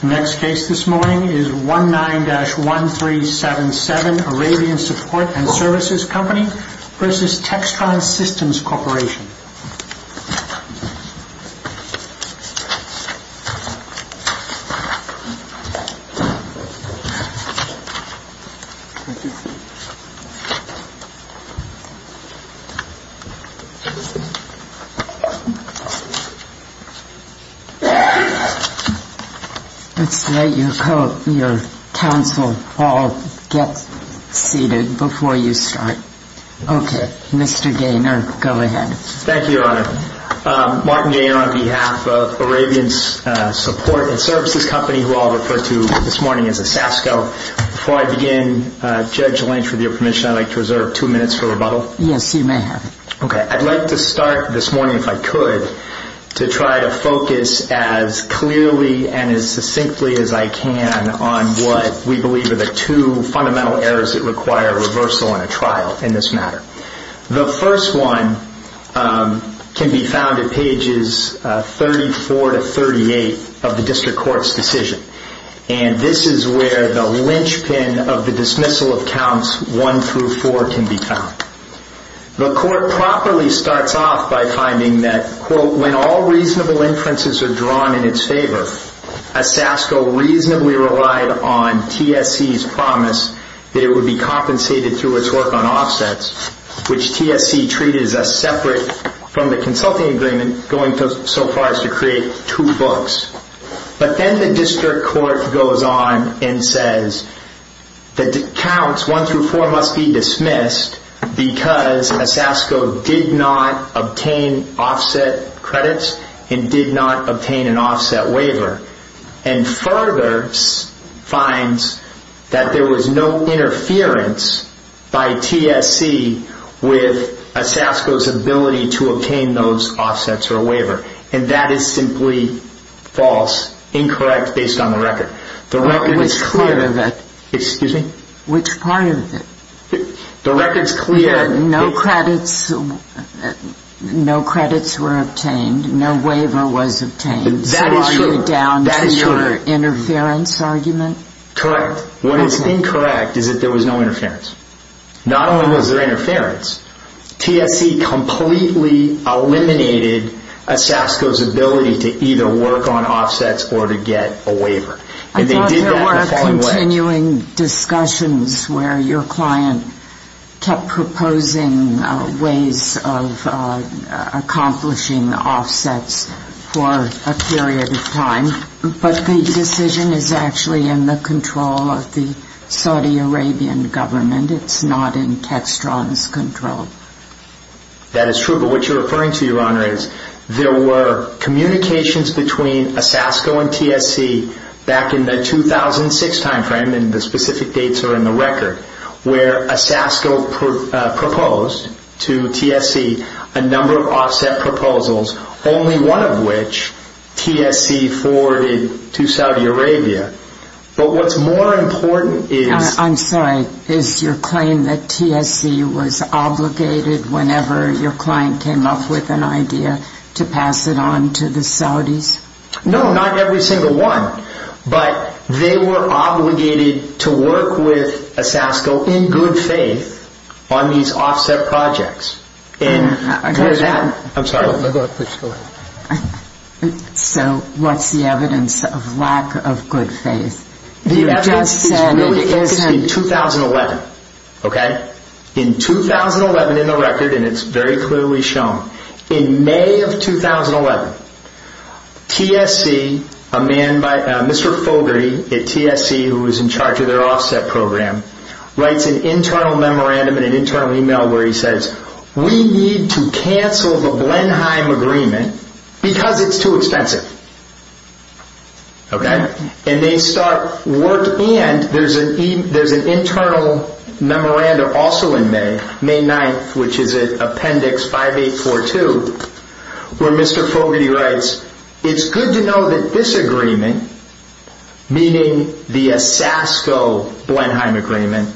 The next case this morning is 19-1377 Arabian Support & Services Co. v. Textron Systems Corporation Let's let your counsel all get seated before you start. Okay, Mr. Gaynor, go ahead. Thank you, Your Honor. Martin Gaynor on behalf of Arabian Support & Services Co., who I'll refer to this morning as a SASCO. Before I begin, Judge Lynch, with your permission, I'd like to reserve two minutes for rebuttal. Yes, you may have it. Okay, I'd like to start this morning, if I could, to try to focus as clearly and as succinctly as I can on what we believe are the two fundamental errors that require reversal in a trial in this matter. The first one can be found at pages 34-38 of the District Court's decision, and this is where the linchpin of the dismissal of counts 1-4 can be found. The Court properly starts off by finding that, when all reasonable inferences are drawn in its favor, a SASCO reasonably relied on TSC's promise that it would be compensated through its work on offsets, which TSC treated as separate from the consulting agreement going so far as to create two books. But then the District Court goes on and says that the counts 1-4 must be dismissed because a SASCO did not obtain offset credits and did not obtain an offset waiver, and further finds that there was no interference by TSC with a SASCO's ability to obtain those offsets or waiver, and that is simply false, incorrect, based on the record. Which part of it? Excuse me? Which part of it? The record's clear. No credits were obtained, no waiver was obtained, so are you down to your interference argument? Correct. What is incorrect is that there was no interference. Not only was there interference, TSC completely eliminated a SASCO's ability to either work on offsets or to get a waiver. I thought there were continuing discussions where your client kept proposing ways of accomplishing offsets for a period of time, but the decision is actually in the control of the Saudi Arabian government. It's not in Textron's control. That is true, but what you're referring to, Your Honor, is there were communications between a SASCO and TSC back in the 2006 time frame, and the specific dates are in the record, where a SASCO proposed to TSC a number of offset proposals, only one of which TSC forwarded to Saudi Arabia. But what's more important is... I'm sorry, is your claim that TSC was obligated whenever your client came up with an idea to pass it on to the Saudis? No, not every single one, but they were obligated to work with a SASCO in good faith on these offset projects. So what's the evidence of lack of good faith? The evidence is in 2011. In 2011 in the record, and it's very clearly shown, in May of 2011, TSC, a man by the name of Mr. Fogarty at TSC, who was in charge of their offset program, writes an internal memorandum in an internal email where he says, we need to cancel the Blenheim agreement because it's too expensive. And they start work, and there's an internal memorandum also in May, May 9th, which is in Appendix 5842, where Mr. Fogarty writes, it's good to know that this agreement, meaning the SASCO-Blenheim agreement,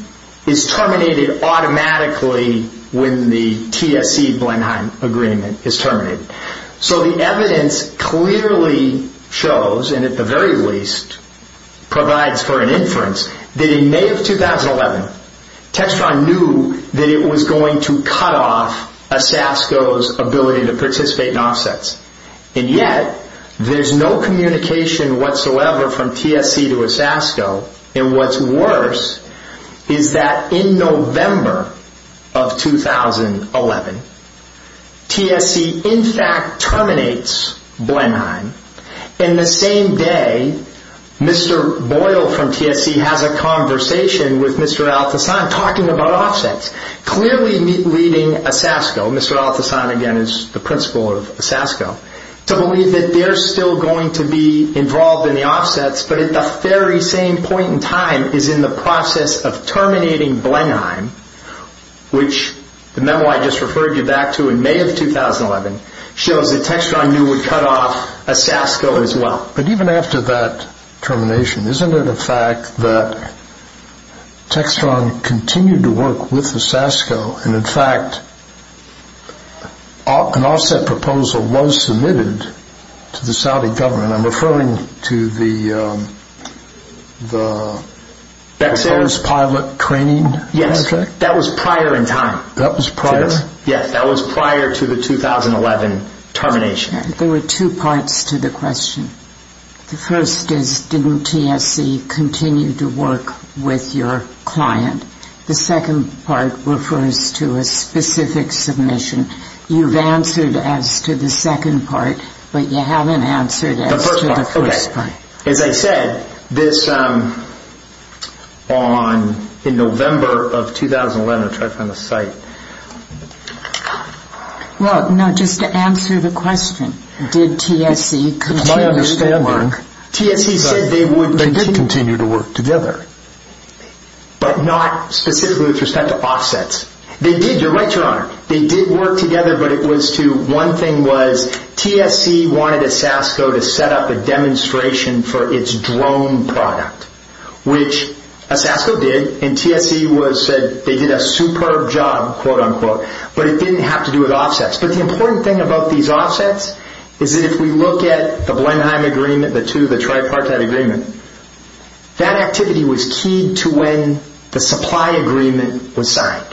is terminated automatically when the TSC-Blenheim agreement is terminated. So the evidence clearly shows, and at the very least provides for an inference, that in May of 2011, Textron knew that it was going to cut off a SASCO's ability to participate in offsets. And yet, there's no communication whatsoever from TSC to a SASCO. And what's worse is that in November of 2011, TSC in fact terminates Blenheim. And the same day, Mr. Boyle from TSC has a conversation with Mr. Althassan talking about offsets, clearly leading a SASCO, Mr. Althassan again is the principal of a SASCO, to believe that they're still going to be involved in the offsets, but at the very same point in time is in the process of terminating Blenheim, which the memo I just referred you back to in May of 2011 shows that Textron knew would cut off a SASCO as well. But even after that termination, isn't it a fact that Textron continued to work with the SASCO, and in fact an offset proposal was submitted to the Saudi government? I'm referring to the first pilot training? Yes, that was prior in time. That was prior? Yes, that was prior to the 2011 termination. There were two parts to the question. The first is didn't TSC continue to work with your client? The second part refers to a specific submission. You've answered as to the second part, but you haven't answered as to the first part. As I said, in November of 2011, I'll try to find the site. Just to answer the question, did TSC continue to work? It's my understanding, TSC said they would continue to work together, but not specifically with respect to offsets. They did, you're right, Your Honor. They did work together, but one thing was TSC wanted a SASCO to set up a demonstration for its drone product, which a SASCO did, and TSC said they did a superb job, but it didn't have to do with offsets. But the important thing about these offsets is that if we look at the Blenheim agreement, the two, the tripartite agreement, that activity was key to when the supply agreement was signed.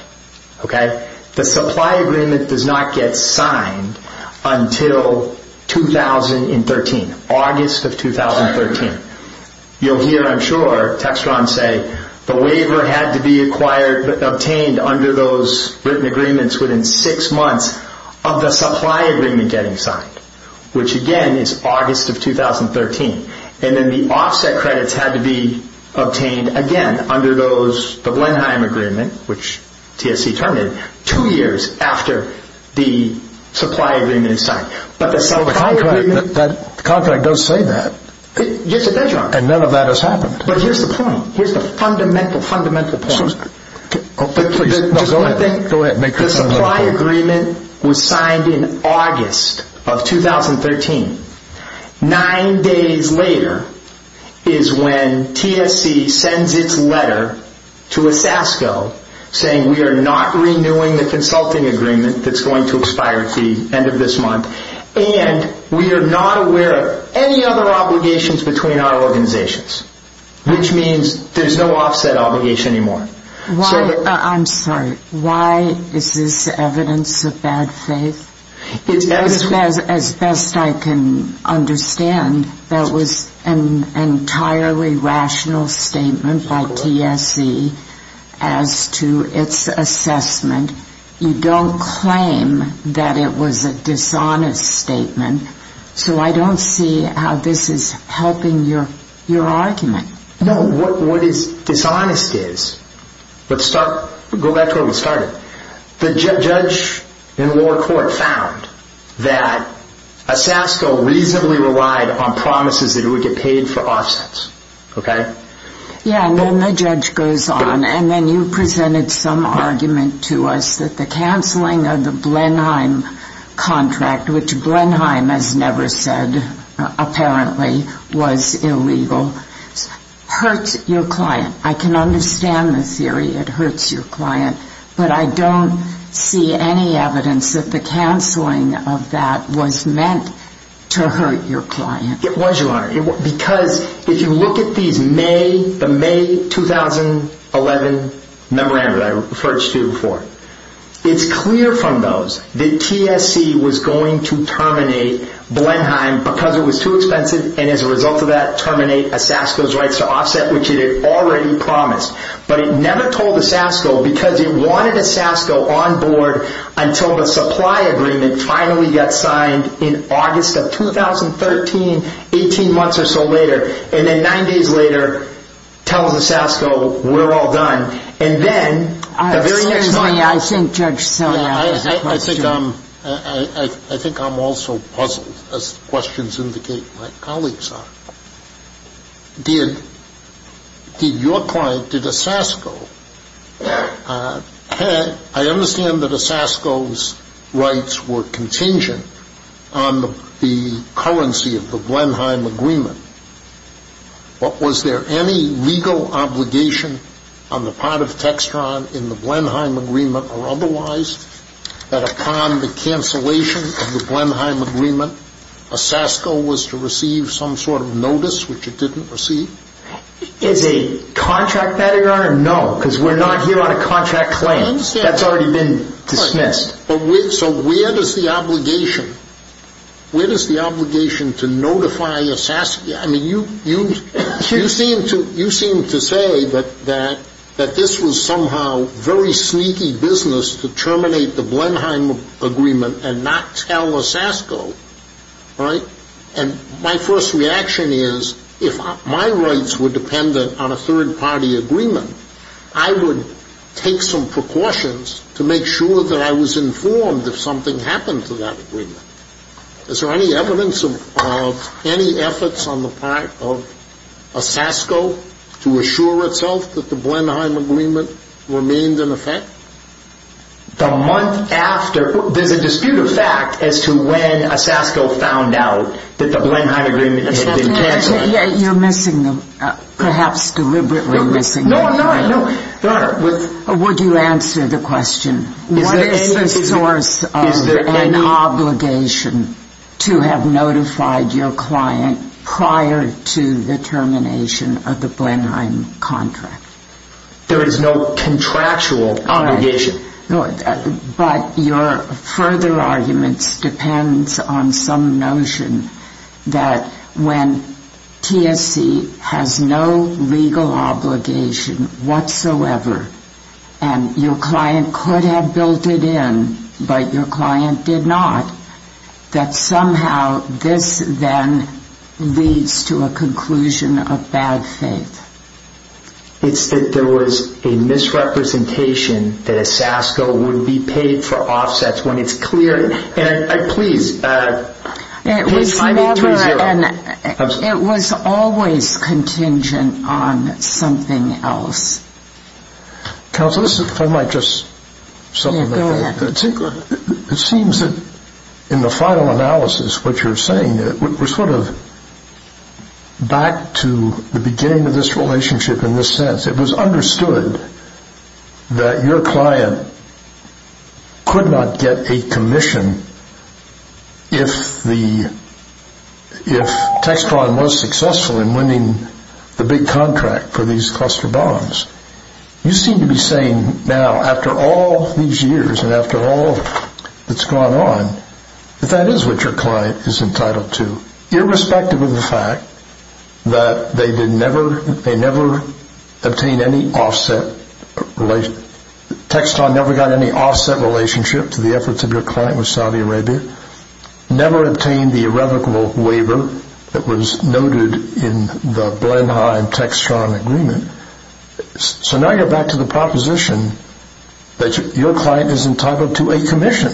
The supply agreement does not get signed until 2013, August of 2013. You'll hear, I'm sure, Textron say the waiver had to be obtained under those written agreements within six months of the supply agreement getting signed, which again is August of 2013, and then the offset credits had to be obtained again under the Blenheim agreement, which TSC terminated two years after the supply agreement was signed. Contract does say that. Yes, it does, Your Honor. And none of that has happened. But here's the point. Here's the fundamental, fundamental point. Go ahead. The supply agreement was signed in August of 2013. Nine days later is when TSC sends its letter to a SASCO saying we are not renewing the consulting agreement that's going to expire at the end of this month, and we are not aware of any other obligations between our organizations, which means there's no offset obligation anymore. I'm sorry. Why is this evidence of bad faith? As best I can understand, that was an entirely rational statement by TSC as to its assessment. You don't claim that it was a dishonest statement, so I don't see how this is helping your argument. No, what dishonest is, let's go back to where we started. The judge in the lower court found that a SASCO reasonably relied on promises that it would get paid for offsets, okay? Yeah, and then the judge goes on, and then you presented some argument to us that the canceling of the Blenheim contract, which Blenheim has never said apparently was illegal, hurts your client. I can understand the theory it hurts your client, but I don't see any evidence that the canceling of that was meant to hurt your client. It was, Your Honor, because if you look at the May 2011 memorandum that I referred you to before, it's clear from those that TSC was going to terminate Blenheim because it was too expensive, and as a result of that, terminate a SASCO's rights to offset, which it had already promised. But it never told the SASCO, because it wanted a SASCO on board until the supply agreement finally got signed in August of 2013, 18 months or so later. And then nine days later, tells the SASCO, we're all done. And then, the very next night. Excuse me, I think Judge Sotomayor has a question. I think I'm also puzzled, as the questions indicate my colleagues are. Did your client, did a SASCO, I understand that a SASCO's rights were contingent on the currency of the Blenheim agreement, but was there any legal obligation on the part of Textron in the Blenheim agreement or otherwise, that upon the cancellation of the Blenheim agreement, a SASCO was to receive some sort of notice, which it didn't receive? Is a contract matter, Your Honor? No, because we're not here on a contract claim. That's already been dismissed. So where does the obligation, where does the obligation to notify a SASCO, I mean, you seem to say that this was somehow very sneaky business to terminate the Blenheim agreement and not tell a SASCO, right? And my first reaction is, if my rights were dependent on a third party agreement, I would take some precautions to make sure that I was informed if something happened to that agreement. Is there any evidence of any efforts on the part of a SASCO to assure itself that the Blenheim agreement remained in effect? The month after, there's a dispute of fact as to when a SASCO found out that the Blenheim agreement had been cancelled. You're missing, perhaps deliberately missing. No, I'm not. Would you answer the question, what is the source of an obligation to have notified your client prior to the termination of the Blenheim contract? There is no contractual obligation. But your further arguments depend on some notion that when TSC has no legal obligation whatsoever, and your client could have built it in, but your client did not, that somehow this then leads to a conclusion of bad faith. It's that there was a misrepresentation that a SASCO would be paid for offsets when it's clear. And please, page 92-0. It was never, it was always contingent on something else. Counsel, if I might just supplement that. Yeah, go ahead. It seems that in the final analysis, what you're saying, we're sort of back to the beginning of this relationship in this sense. It was understood that your client could not get a commission if the, if Textron was successful in winning the big contract for these cluster bombs. You seem to be saying now, after all these years and after all that's gone on, that that is what your client is entitled to, irrespective of the fact that they did never, they never obtained any offset, Textron never got any offset relationship to the efforts of your client with Saudi Arabia, never obtained the irrevocable waiver that was noted in the Blenheim-Textron agreement. So now you're back to the proposition that your client is entitled to a commission,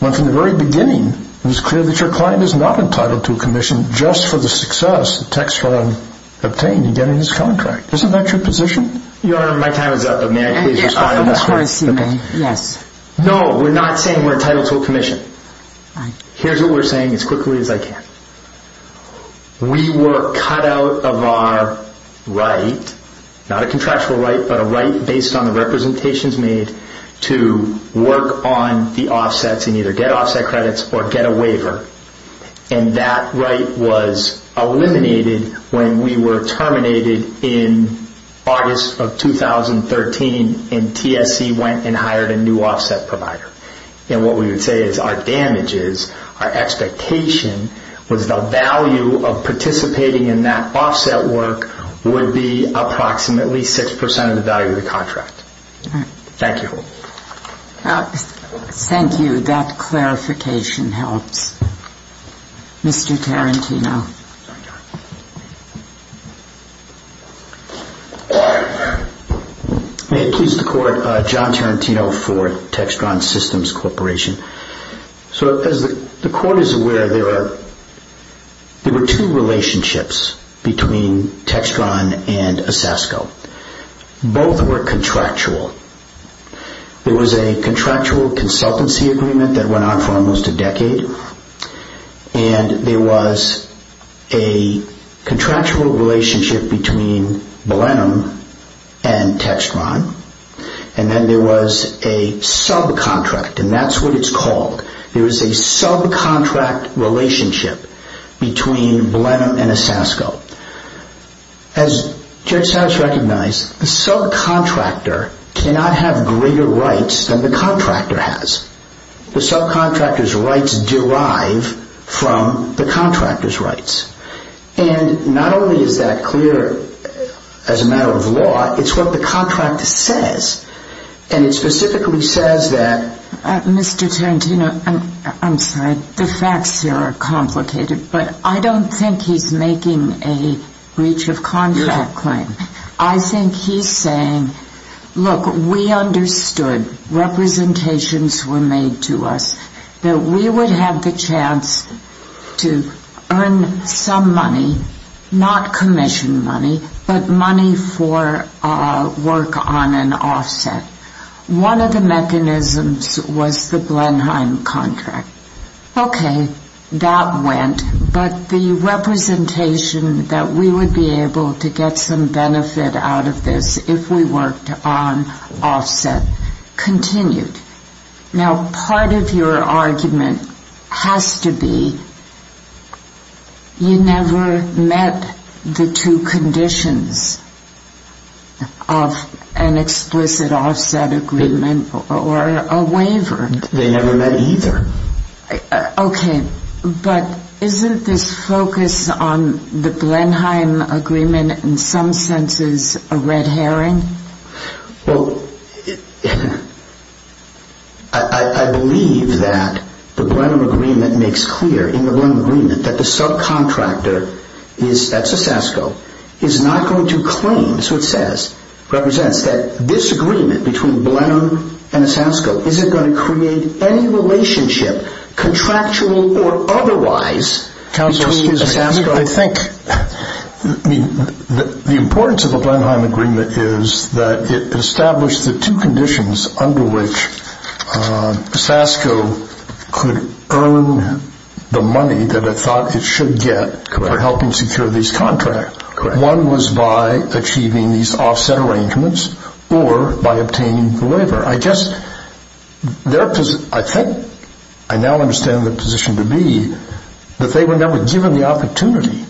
when from the very beginning it was clear that your client is not entitled to a commission just for the success that Textron obtained in getting his contract. Isn't that your position? Your Honor, my time is up, but may I please respond to that? Yes. No, we're not saying we're entitled to a commission. Here's what we're saying as quickly as I can. We were cut out of our right, not a contractual right, but a right based on the representations made to work on the offsets and either get offset credits or get a waiver. And that right was eliminated when we were terminated in August of 2013 and TSC went and hired a new offset provider. And what we would say is our damages, our expectation, was the value of participating in that offset work would be approximately 6% of the value of the contract. Thank you. Thank you. That clarification helps. Mr. Tarantino. May it please the Court. John Tarantino for Textron Systems Corporation. So as the Court is aware, there were two relationships between Textron and ASASCO. Both were contractual. There was a contractual consultancy agreement that went on for almost a decade and there was a contractual relationship between Blenheim and Textron and then there was a subcontract, and that's what it's called. There is a subcontract relationship between Blenheim and ASASCO. As Judge Satos recognized, the subcontractor cannot have greater rights than the contractor has. The subcontractor's rights derive from the contractor's rights. And not only is that clear as a matter of law, it's what the contract says, and it specifically says that Mr. Tarantino, I'm sorry, the facts here are complicated, but I don't think he's making a breach of contract claim. I think he's saying, look, we understood representations were made to us that we would have the chance to earn some money, not commission money, but money for work on an offset. One of the mechanisms was the Blenheim contract. Okay, that went, but the representation that we would be able to get some benefit out of this if we worked on offset continued. Now, part of your argument has to be you never met the two conditions of an explicit offset agreement or a waiver. They never met either. Okay, but isn't this focus on the Blenheim agreement in some senses a red herring? Well, I believe that the Blenheim agreement makes clear in the Blenheim agreement that the subcontractor, that's ASASCO, is not going to claim, it's what it says, represents that this agreement between Blenheim and ASASCO isn't going to create any relationship, contractual or otherwise, between ASASCO. The importance of the Blenheim agreement is that it established the two conditions under which ASASCO could earn the money that it thought it should get for helping secure these contracts. Correct. One was by achieving these offset arrangements or by obtaining the waiver. I think I now understand the position to be that they were never given the opportunity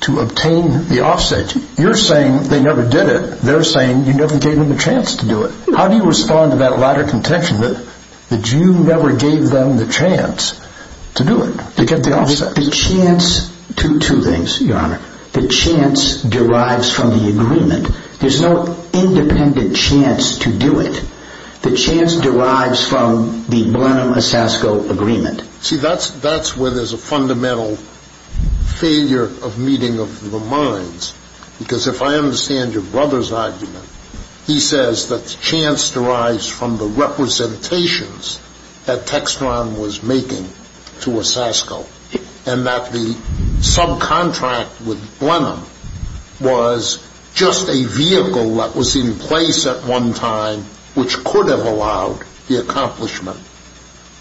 to obtain the offset. You're saying they never did it. They're saying you never gave them the chance to do it. How do you respond to that latter contention that you never gave them the chance to do it, to get the offset? Two things, Your Honor. The chance derives from the agreement. There's no independent chance to do it. The chance derives from the Blenheim-ASASCO agreement. See, that's where there's a fundamental failure of meeting of the minds because if I understand your brother's argument, he says that the chance derives from the representations that Textron was making to ASASCO and that the subcontract with Blenheim was just a vehicle that was in place at one time which could have allowed the accomplishment,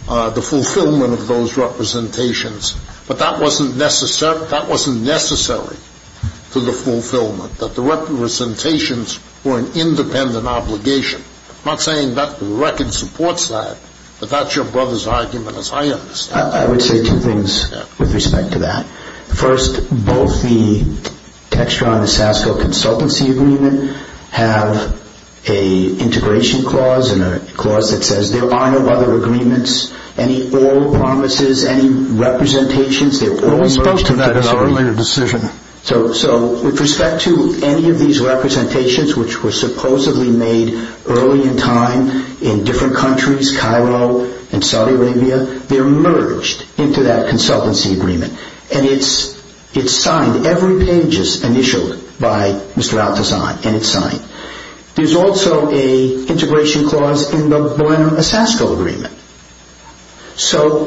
the fulfillment of those representations, but that wasn't necessary to the fulfillment, that the representations were an independent obligation. I'm not saying that the record supports that, but that's your brother's argument as I understand it. I would say two things with respect to that. First, both the Textron-ASASCO consultancy agreement have an integration clause and a clause that says there are no other agreements, any oral promises, any representations. Well, we spoke to that in our later decision. So, with respect to any of these representations, which were supposedly made early in time in different countries, Cairo and Saudi Arabia, they're merged into that consultancy agreement and it's signed, every page is initialed by Mr. Al-Tazan and it's signed. There's also an integration clause in the Blenheim-ASASCO agreement. So,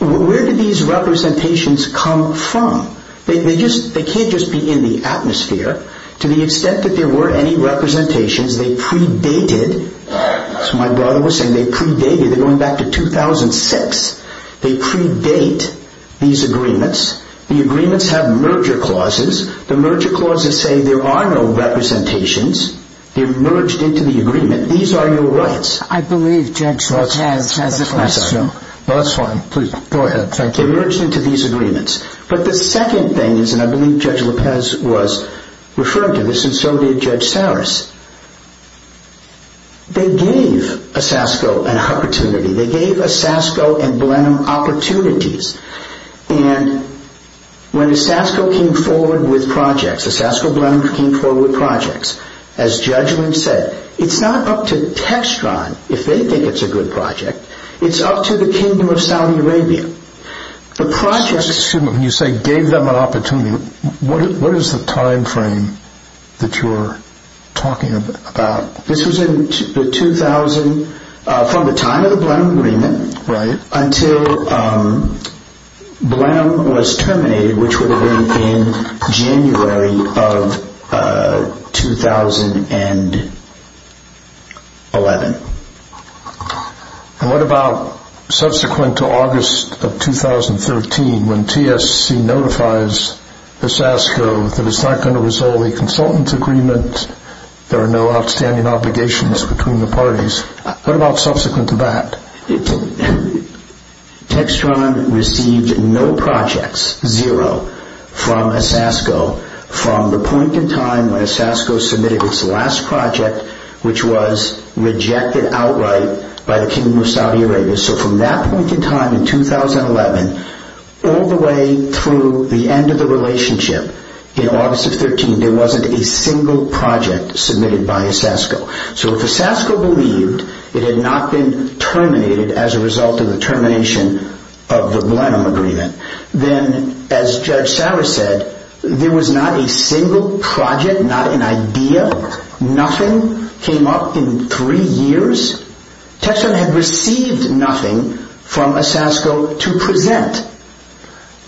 where do these representations come from? They can't just be in the atmosphere. To the extent that there were any representations, they predated. As my brother was saying, they predated. They're going back to 2006. They predate these agreements. The agreements have merger clauses. The merger clauses say there are no representations. They're merged into the agreement. These are your rights. I believe Judge Al-Taz has a question. That's fine. Please, go ahead. Thank you. They're merged into these agreements. But the second thing is, and I believe Judge Lopez was referring to this, and so did Judge Sarris, they gave ASASCO an opportunity. They gave ASASCO and Blenheim opportunities. And when ASASCO came forward with projects, ASASCO-Blenheim came forward with projects, as Judge Lynch said, it's not up to Textron if they think it's a good project. It's up to the Kingdom of Saudi Arabia. The projects, when you say gave them an opportunity, what is the time frame that you're talking about? This was in the 2000, from the time of the Blenheim agreement until Blenheim was terminated, which would have been in January of 2011. And what about subsequent to August of 2013, when TSC notifies ASASCO that it's not going to resolve a consultant's agreement, there are no outstanding obligations between the parties, what about subsequent to that? Textron received no projects, zero, from ASASCO from the point in time when ASASCO submitted its last project, which was rejected outright by the Kingdom of Saudi Arabia. So from that point in time in 2011 all the way through the end of the relationship in August of 2013, there wasn't a single project submitted by ASASCO. So if ASASCO believed it had not been terminated as a result of the termination of the Blenheim agreement, then as Judge Sarra said, there was not a single project, not an idea, nothing came up in three years. Textron had received nothing from ASASCO to present.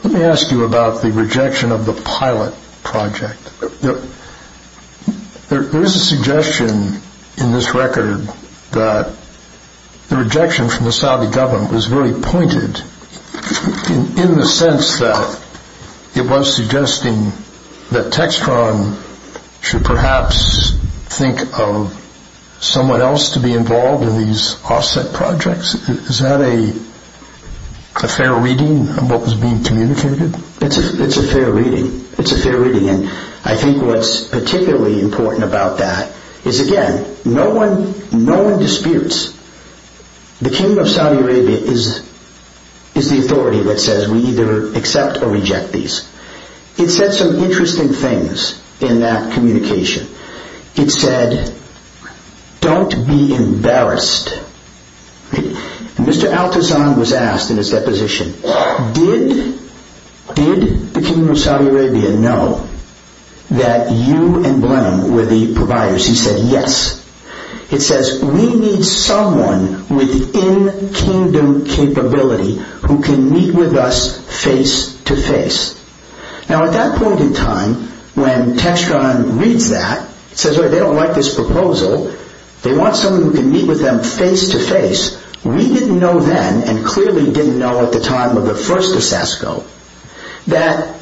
Let me ask you about the rejection of the pilot project. There is a suggestion in this record that the rejection from the Saudi government was very pointed in the sense that it was suggesting that Textron should perhaps think of someone else to be involved in these offset projects. Is that a fair reading of what was being communicated? It's a fair reading. I think what's particularly important about that is, again, no one disputes. The Kingdom of Saudi Arabia is the authority that says we either accept or reject these. It said some interesting things in that communication. It said, don't be embarrassed. Mr. Al-Tazan was asked in his deposition, did the Kingdom of Saudi Arabia know that you and Blenheim were the providers? He said, yes. It says, we need someone with in-Kingdom capability who can meet with us face-to-face. Now, at that point in time, when Textron reads that, says they don't like this proposal, they want someone who can meet with them face-to-face. We didn't know then, and clearly didn't know at the time of the first ASASCO, that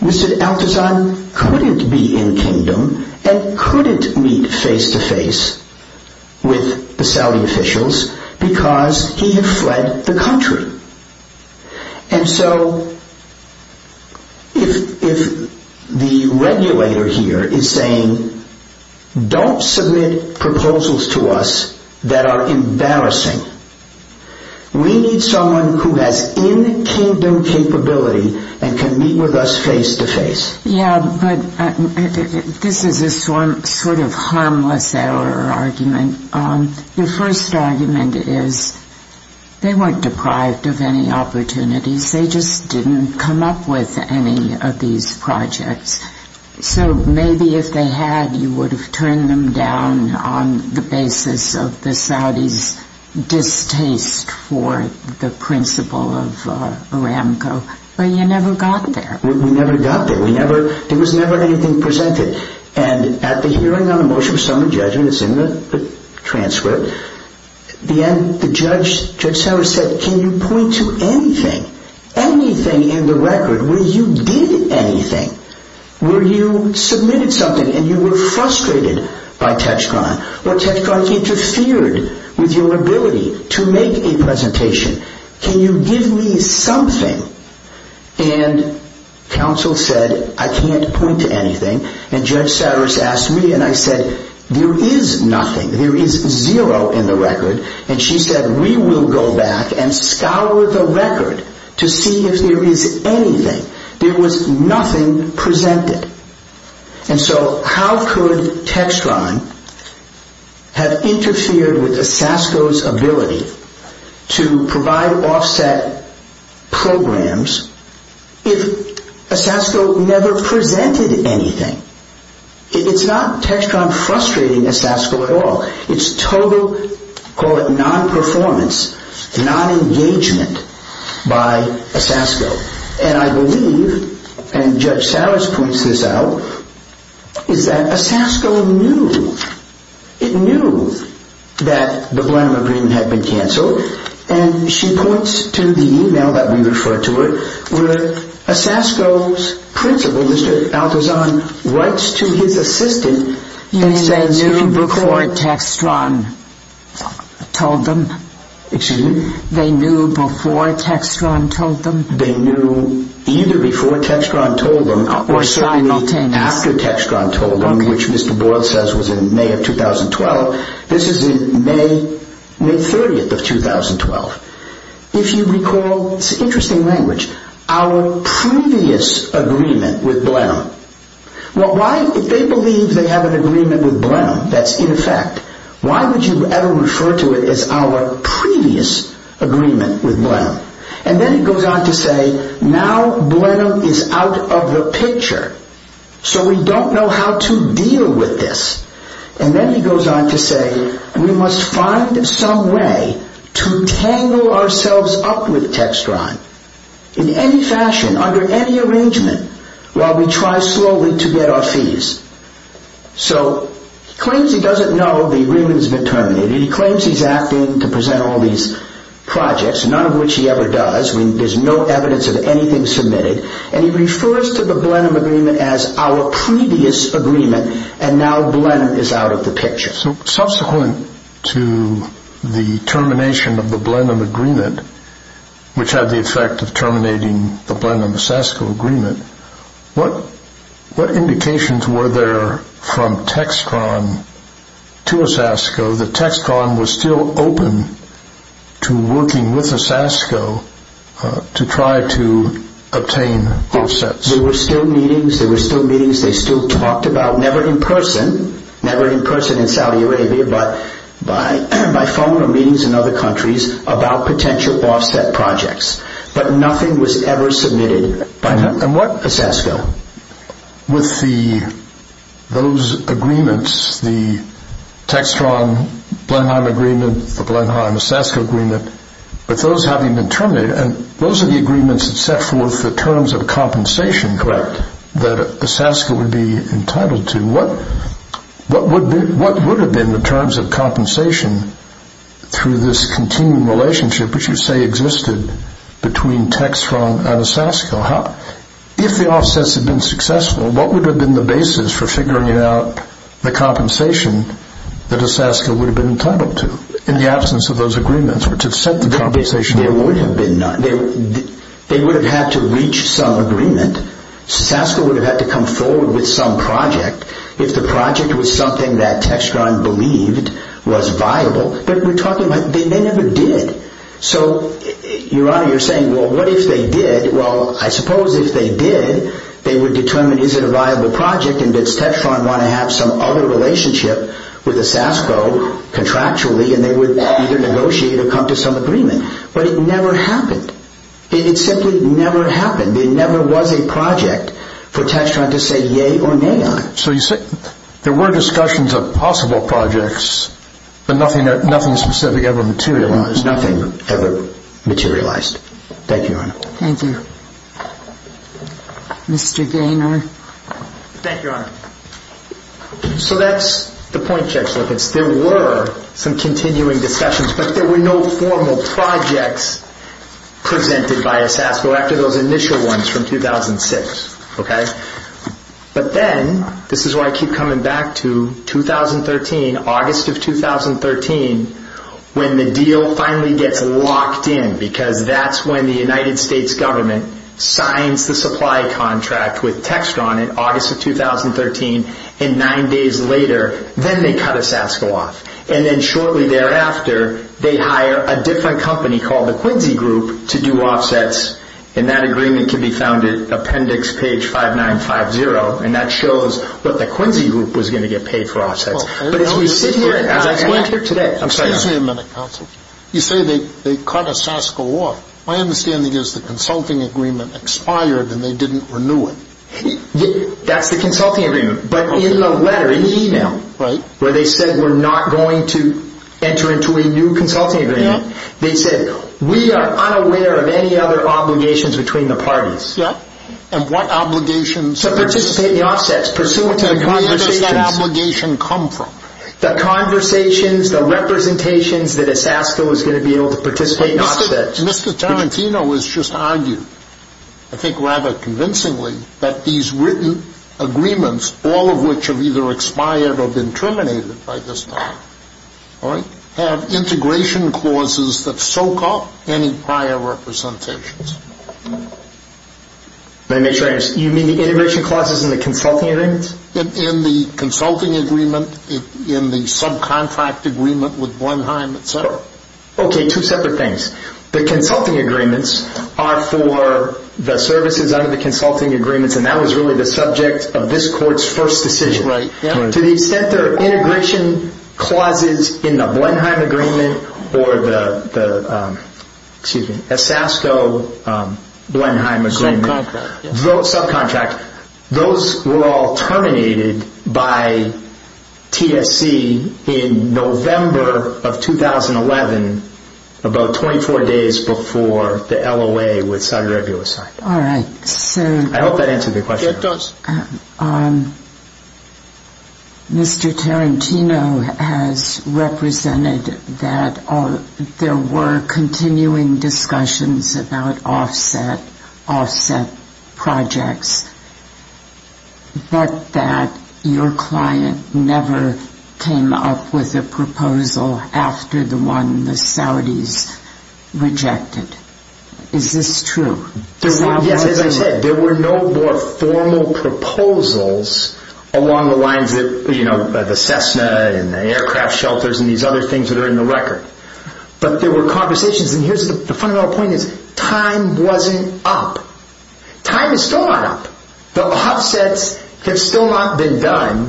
Mr. Al-Tazan couldn't be in-Kingdom and couldn't meet face-to-face with the Saudi officials because he had fled the country. And so, if the regulator here is saying, don't submit proposals to us that are embarrassing, we need someone who has in-Kingdom capability and can meet with us face-to-face. Yeah, but this is a sort of harmless error argument. The first argument is, they weren't deprived of any opportunities. They just didn't come up with any of these projects. So, maybe if they had, you would have turned them down on the basis of the Saudis' distaste for the principle of Aramco. But you never got there. We never got there. There was never anything presented. And at the hearing on the motion for summary judgment, it's in the transcript, the judge said, can you point to anything, anything in the record where you did anything, where you submitted something and you were frustrated by text crime, where text crime interfered with your ability to make a presentation. Can you give me something? And counsel said, I can't point to anything. And Judge Saris asked me, and I said, there is nothing. There is zero in the record. And she said, we will go back and scour the record to see if there is anything. There was nothing presented. And so, how could text crime have interfered with the SASCO's ability to provide offset programs if a SASCO never presented anything? It's not text crime frustrating a SASCO at all. It's total, call it non-performance, non-engagement by a SASCO. And I believe, and Judge Saris points this out, is that a SASCO knew. It knew that the Brenham agreement had been canceled. And she points to the e-mail that we referred to it, where a SASCO's principal, Mr. Altazan, writes to his assistant. You mean they knew before Textron told them? Excuse me? They knew before Textron told them? They knew either before Textron told them or after Textron told them, which Mr. Boyle says was in May of 2012. This is in May 30th of 2012. If you recall, it's an interesting language, our previous agreement with Blenheim. If they believe they have an agreement with Blenheim that's in effect, why would you ever refer to it as our previous agreement with Blenheim? And then he goes on to say, now Blenheim is out of the picture. So we don't know how to deal with this. And then he goes on to say, we must find some way to tangle ourselves up with Textron in any fashion, under any arrangement, while we try slowly to get our fees. So he claims he doesn't know the agreement's been terminated. He claims he's acting to present all these projects, none of which he ever does. There's no evidence of anything submitted. And he refers to the Blenheim agreement as our previous agreement, and now Blenheim is out of the picture. So subsequent to the termination of the Blenheim agreement, which had the effect of terminating the Blenheim-ASASCO agreement, what indications were there from Textron to ASASCO that Textron was still open to working with ASASCO to try to obtain offsets? There were still meetings. There were still meetings. They still talked about, never in person, never in person in Saudi Arabia, but by phone or meetings in other countries about potential offset projects. But nothing was ever submitted by ASASCO. With those agreements, the Textron-Blenheim agreement, the Blenheim-ASASCO agreement, with those having been terminated, and those are the agreements that set forth the terms of compensation that ASASCO would be entitled to, what would have been the terms of compensation through this continuing relationship which you say existed between Textron and ASASCO? If the offsets had been successful, what would have been the basis for figuring out the compensation that ASASCO would have been entitled to in the absence of those agreements which had set the compensation? There would have been none. They would have had to reach some agreement. ASASCO would have had to come forward with some project if the project was something that Textron believed was viable. But we're talking about they never did. So, Your Honor, you're saying, well, what if they did? Well, I suppose if they did, they would determine is it a viable project and does Textron want to have some other relationship with ASASCO contractually and they would either negotiate or come to some agreement. But it never happened. It simply never happened. There never was a project for Textron to say yea or nay on. So you say there were discussions of possible projects, but nothing specific ever materialized. Well, there's nothing ever materialized. Thank you, Your Honor. Thank you. Mr. Gaynor. Thank you, Your Honor. So that's the point, Judge Lipitz. There were some continuing discussions, but there were no formal projects presented by ASASCO after those initial ones from 2006, okay? But then, this is why I keep coming back to 2013, August of 2013, when the deal finally gets locked in because that's when the United States government signs the supply contract with Textron in August of 2013. And nine days later, then they cut ASASCO off. And then shortly thereafter, they hire a different company called the Quincy Group to do offsets. And that agreement can be found at Appendix Page 5950, and that shows what the Quincy Group was going to get paid for offsets. But as we sit here, as I went here today. Excuse me a minute, counsel. You say they cut ASASCO off. My understanding is the consulting agreement expired and they didn't renew it. That's the consulting agreement. But in the letter, in the email, where they said we're not going to enter into a new consulting agreement, they said we are unaware of any other obligations between the parties. Yeah, and what obligations? To participate in the offsets pursuant to the conversations. And where does that obligation come from? The conversations, the representations that ASASCO is going to be able to participate in offsets. Mr. Tarantino has just argued, I think rather convincingly, that these written agreements, all of which have either expired or been terminated by this time, all right, have integration clauses that soak up any prior representations. You mean the integration clauses in the consulting agreement? In the consulting agreement, in the subcontract agreement with Blenheim, et cetera. Okay, two separate things. The consulting agreements are for the services under the consulting agreements, and that was really the subject of this court's first decision. To the extent there are integration clauses in the Blenheim agreement or the ASASCO Blenheim agreement. Subcontract. Subcontract. Those were all terminated by TSC in November of 2011, about 24 days before the LOA was signed. All right. I hope that answered the question. It does. Mr. Tarantino has represented that there were continuing discussions about offset projects, but that your client never came up with a proposal after the one the Saudis rejected. Is this true? Yes, as I said, there were no more formal proposals along the lines of the Cessna and the aircraft shelters and these other things that are in the record. But there were conversations, and the fundamental point is time wasn't up. Time is still not up. The offsets have still not been done.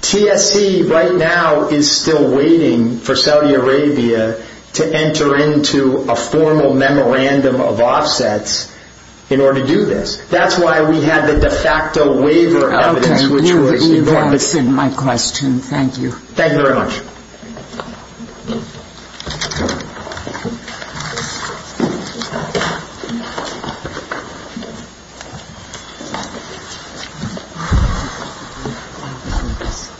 TSC right now is still waiting for Saudi Arabia to enter into a formal memorandum of offsets in order to do this. That's why we have the de facto waiver evidence. Okay. You have answered my question. Thank you. Thank you very much. Thank you.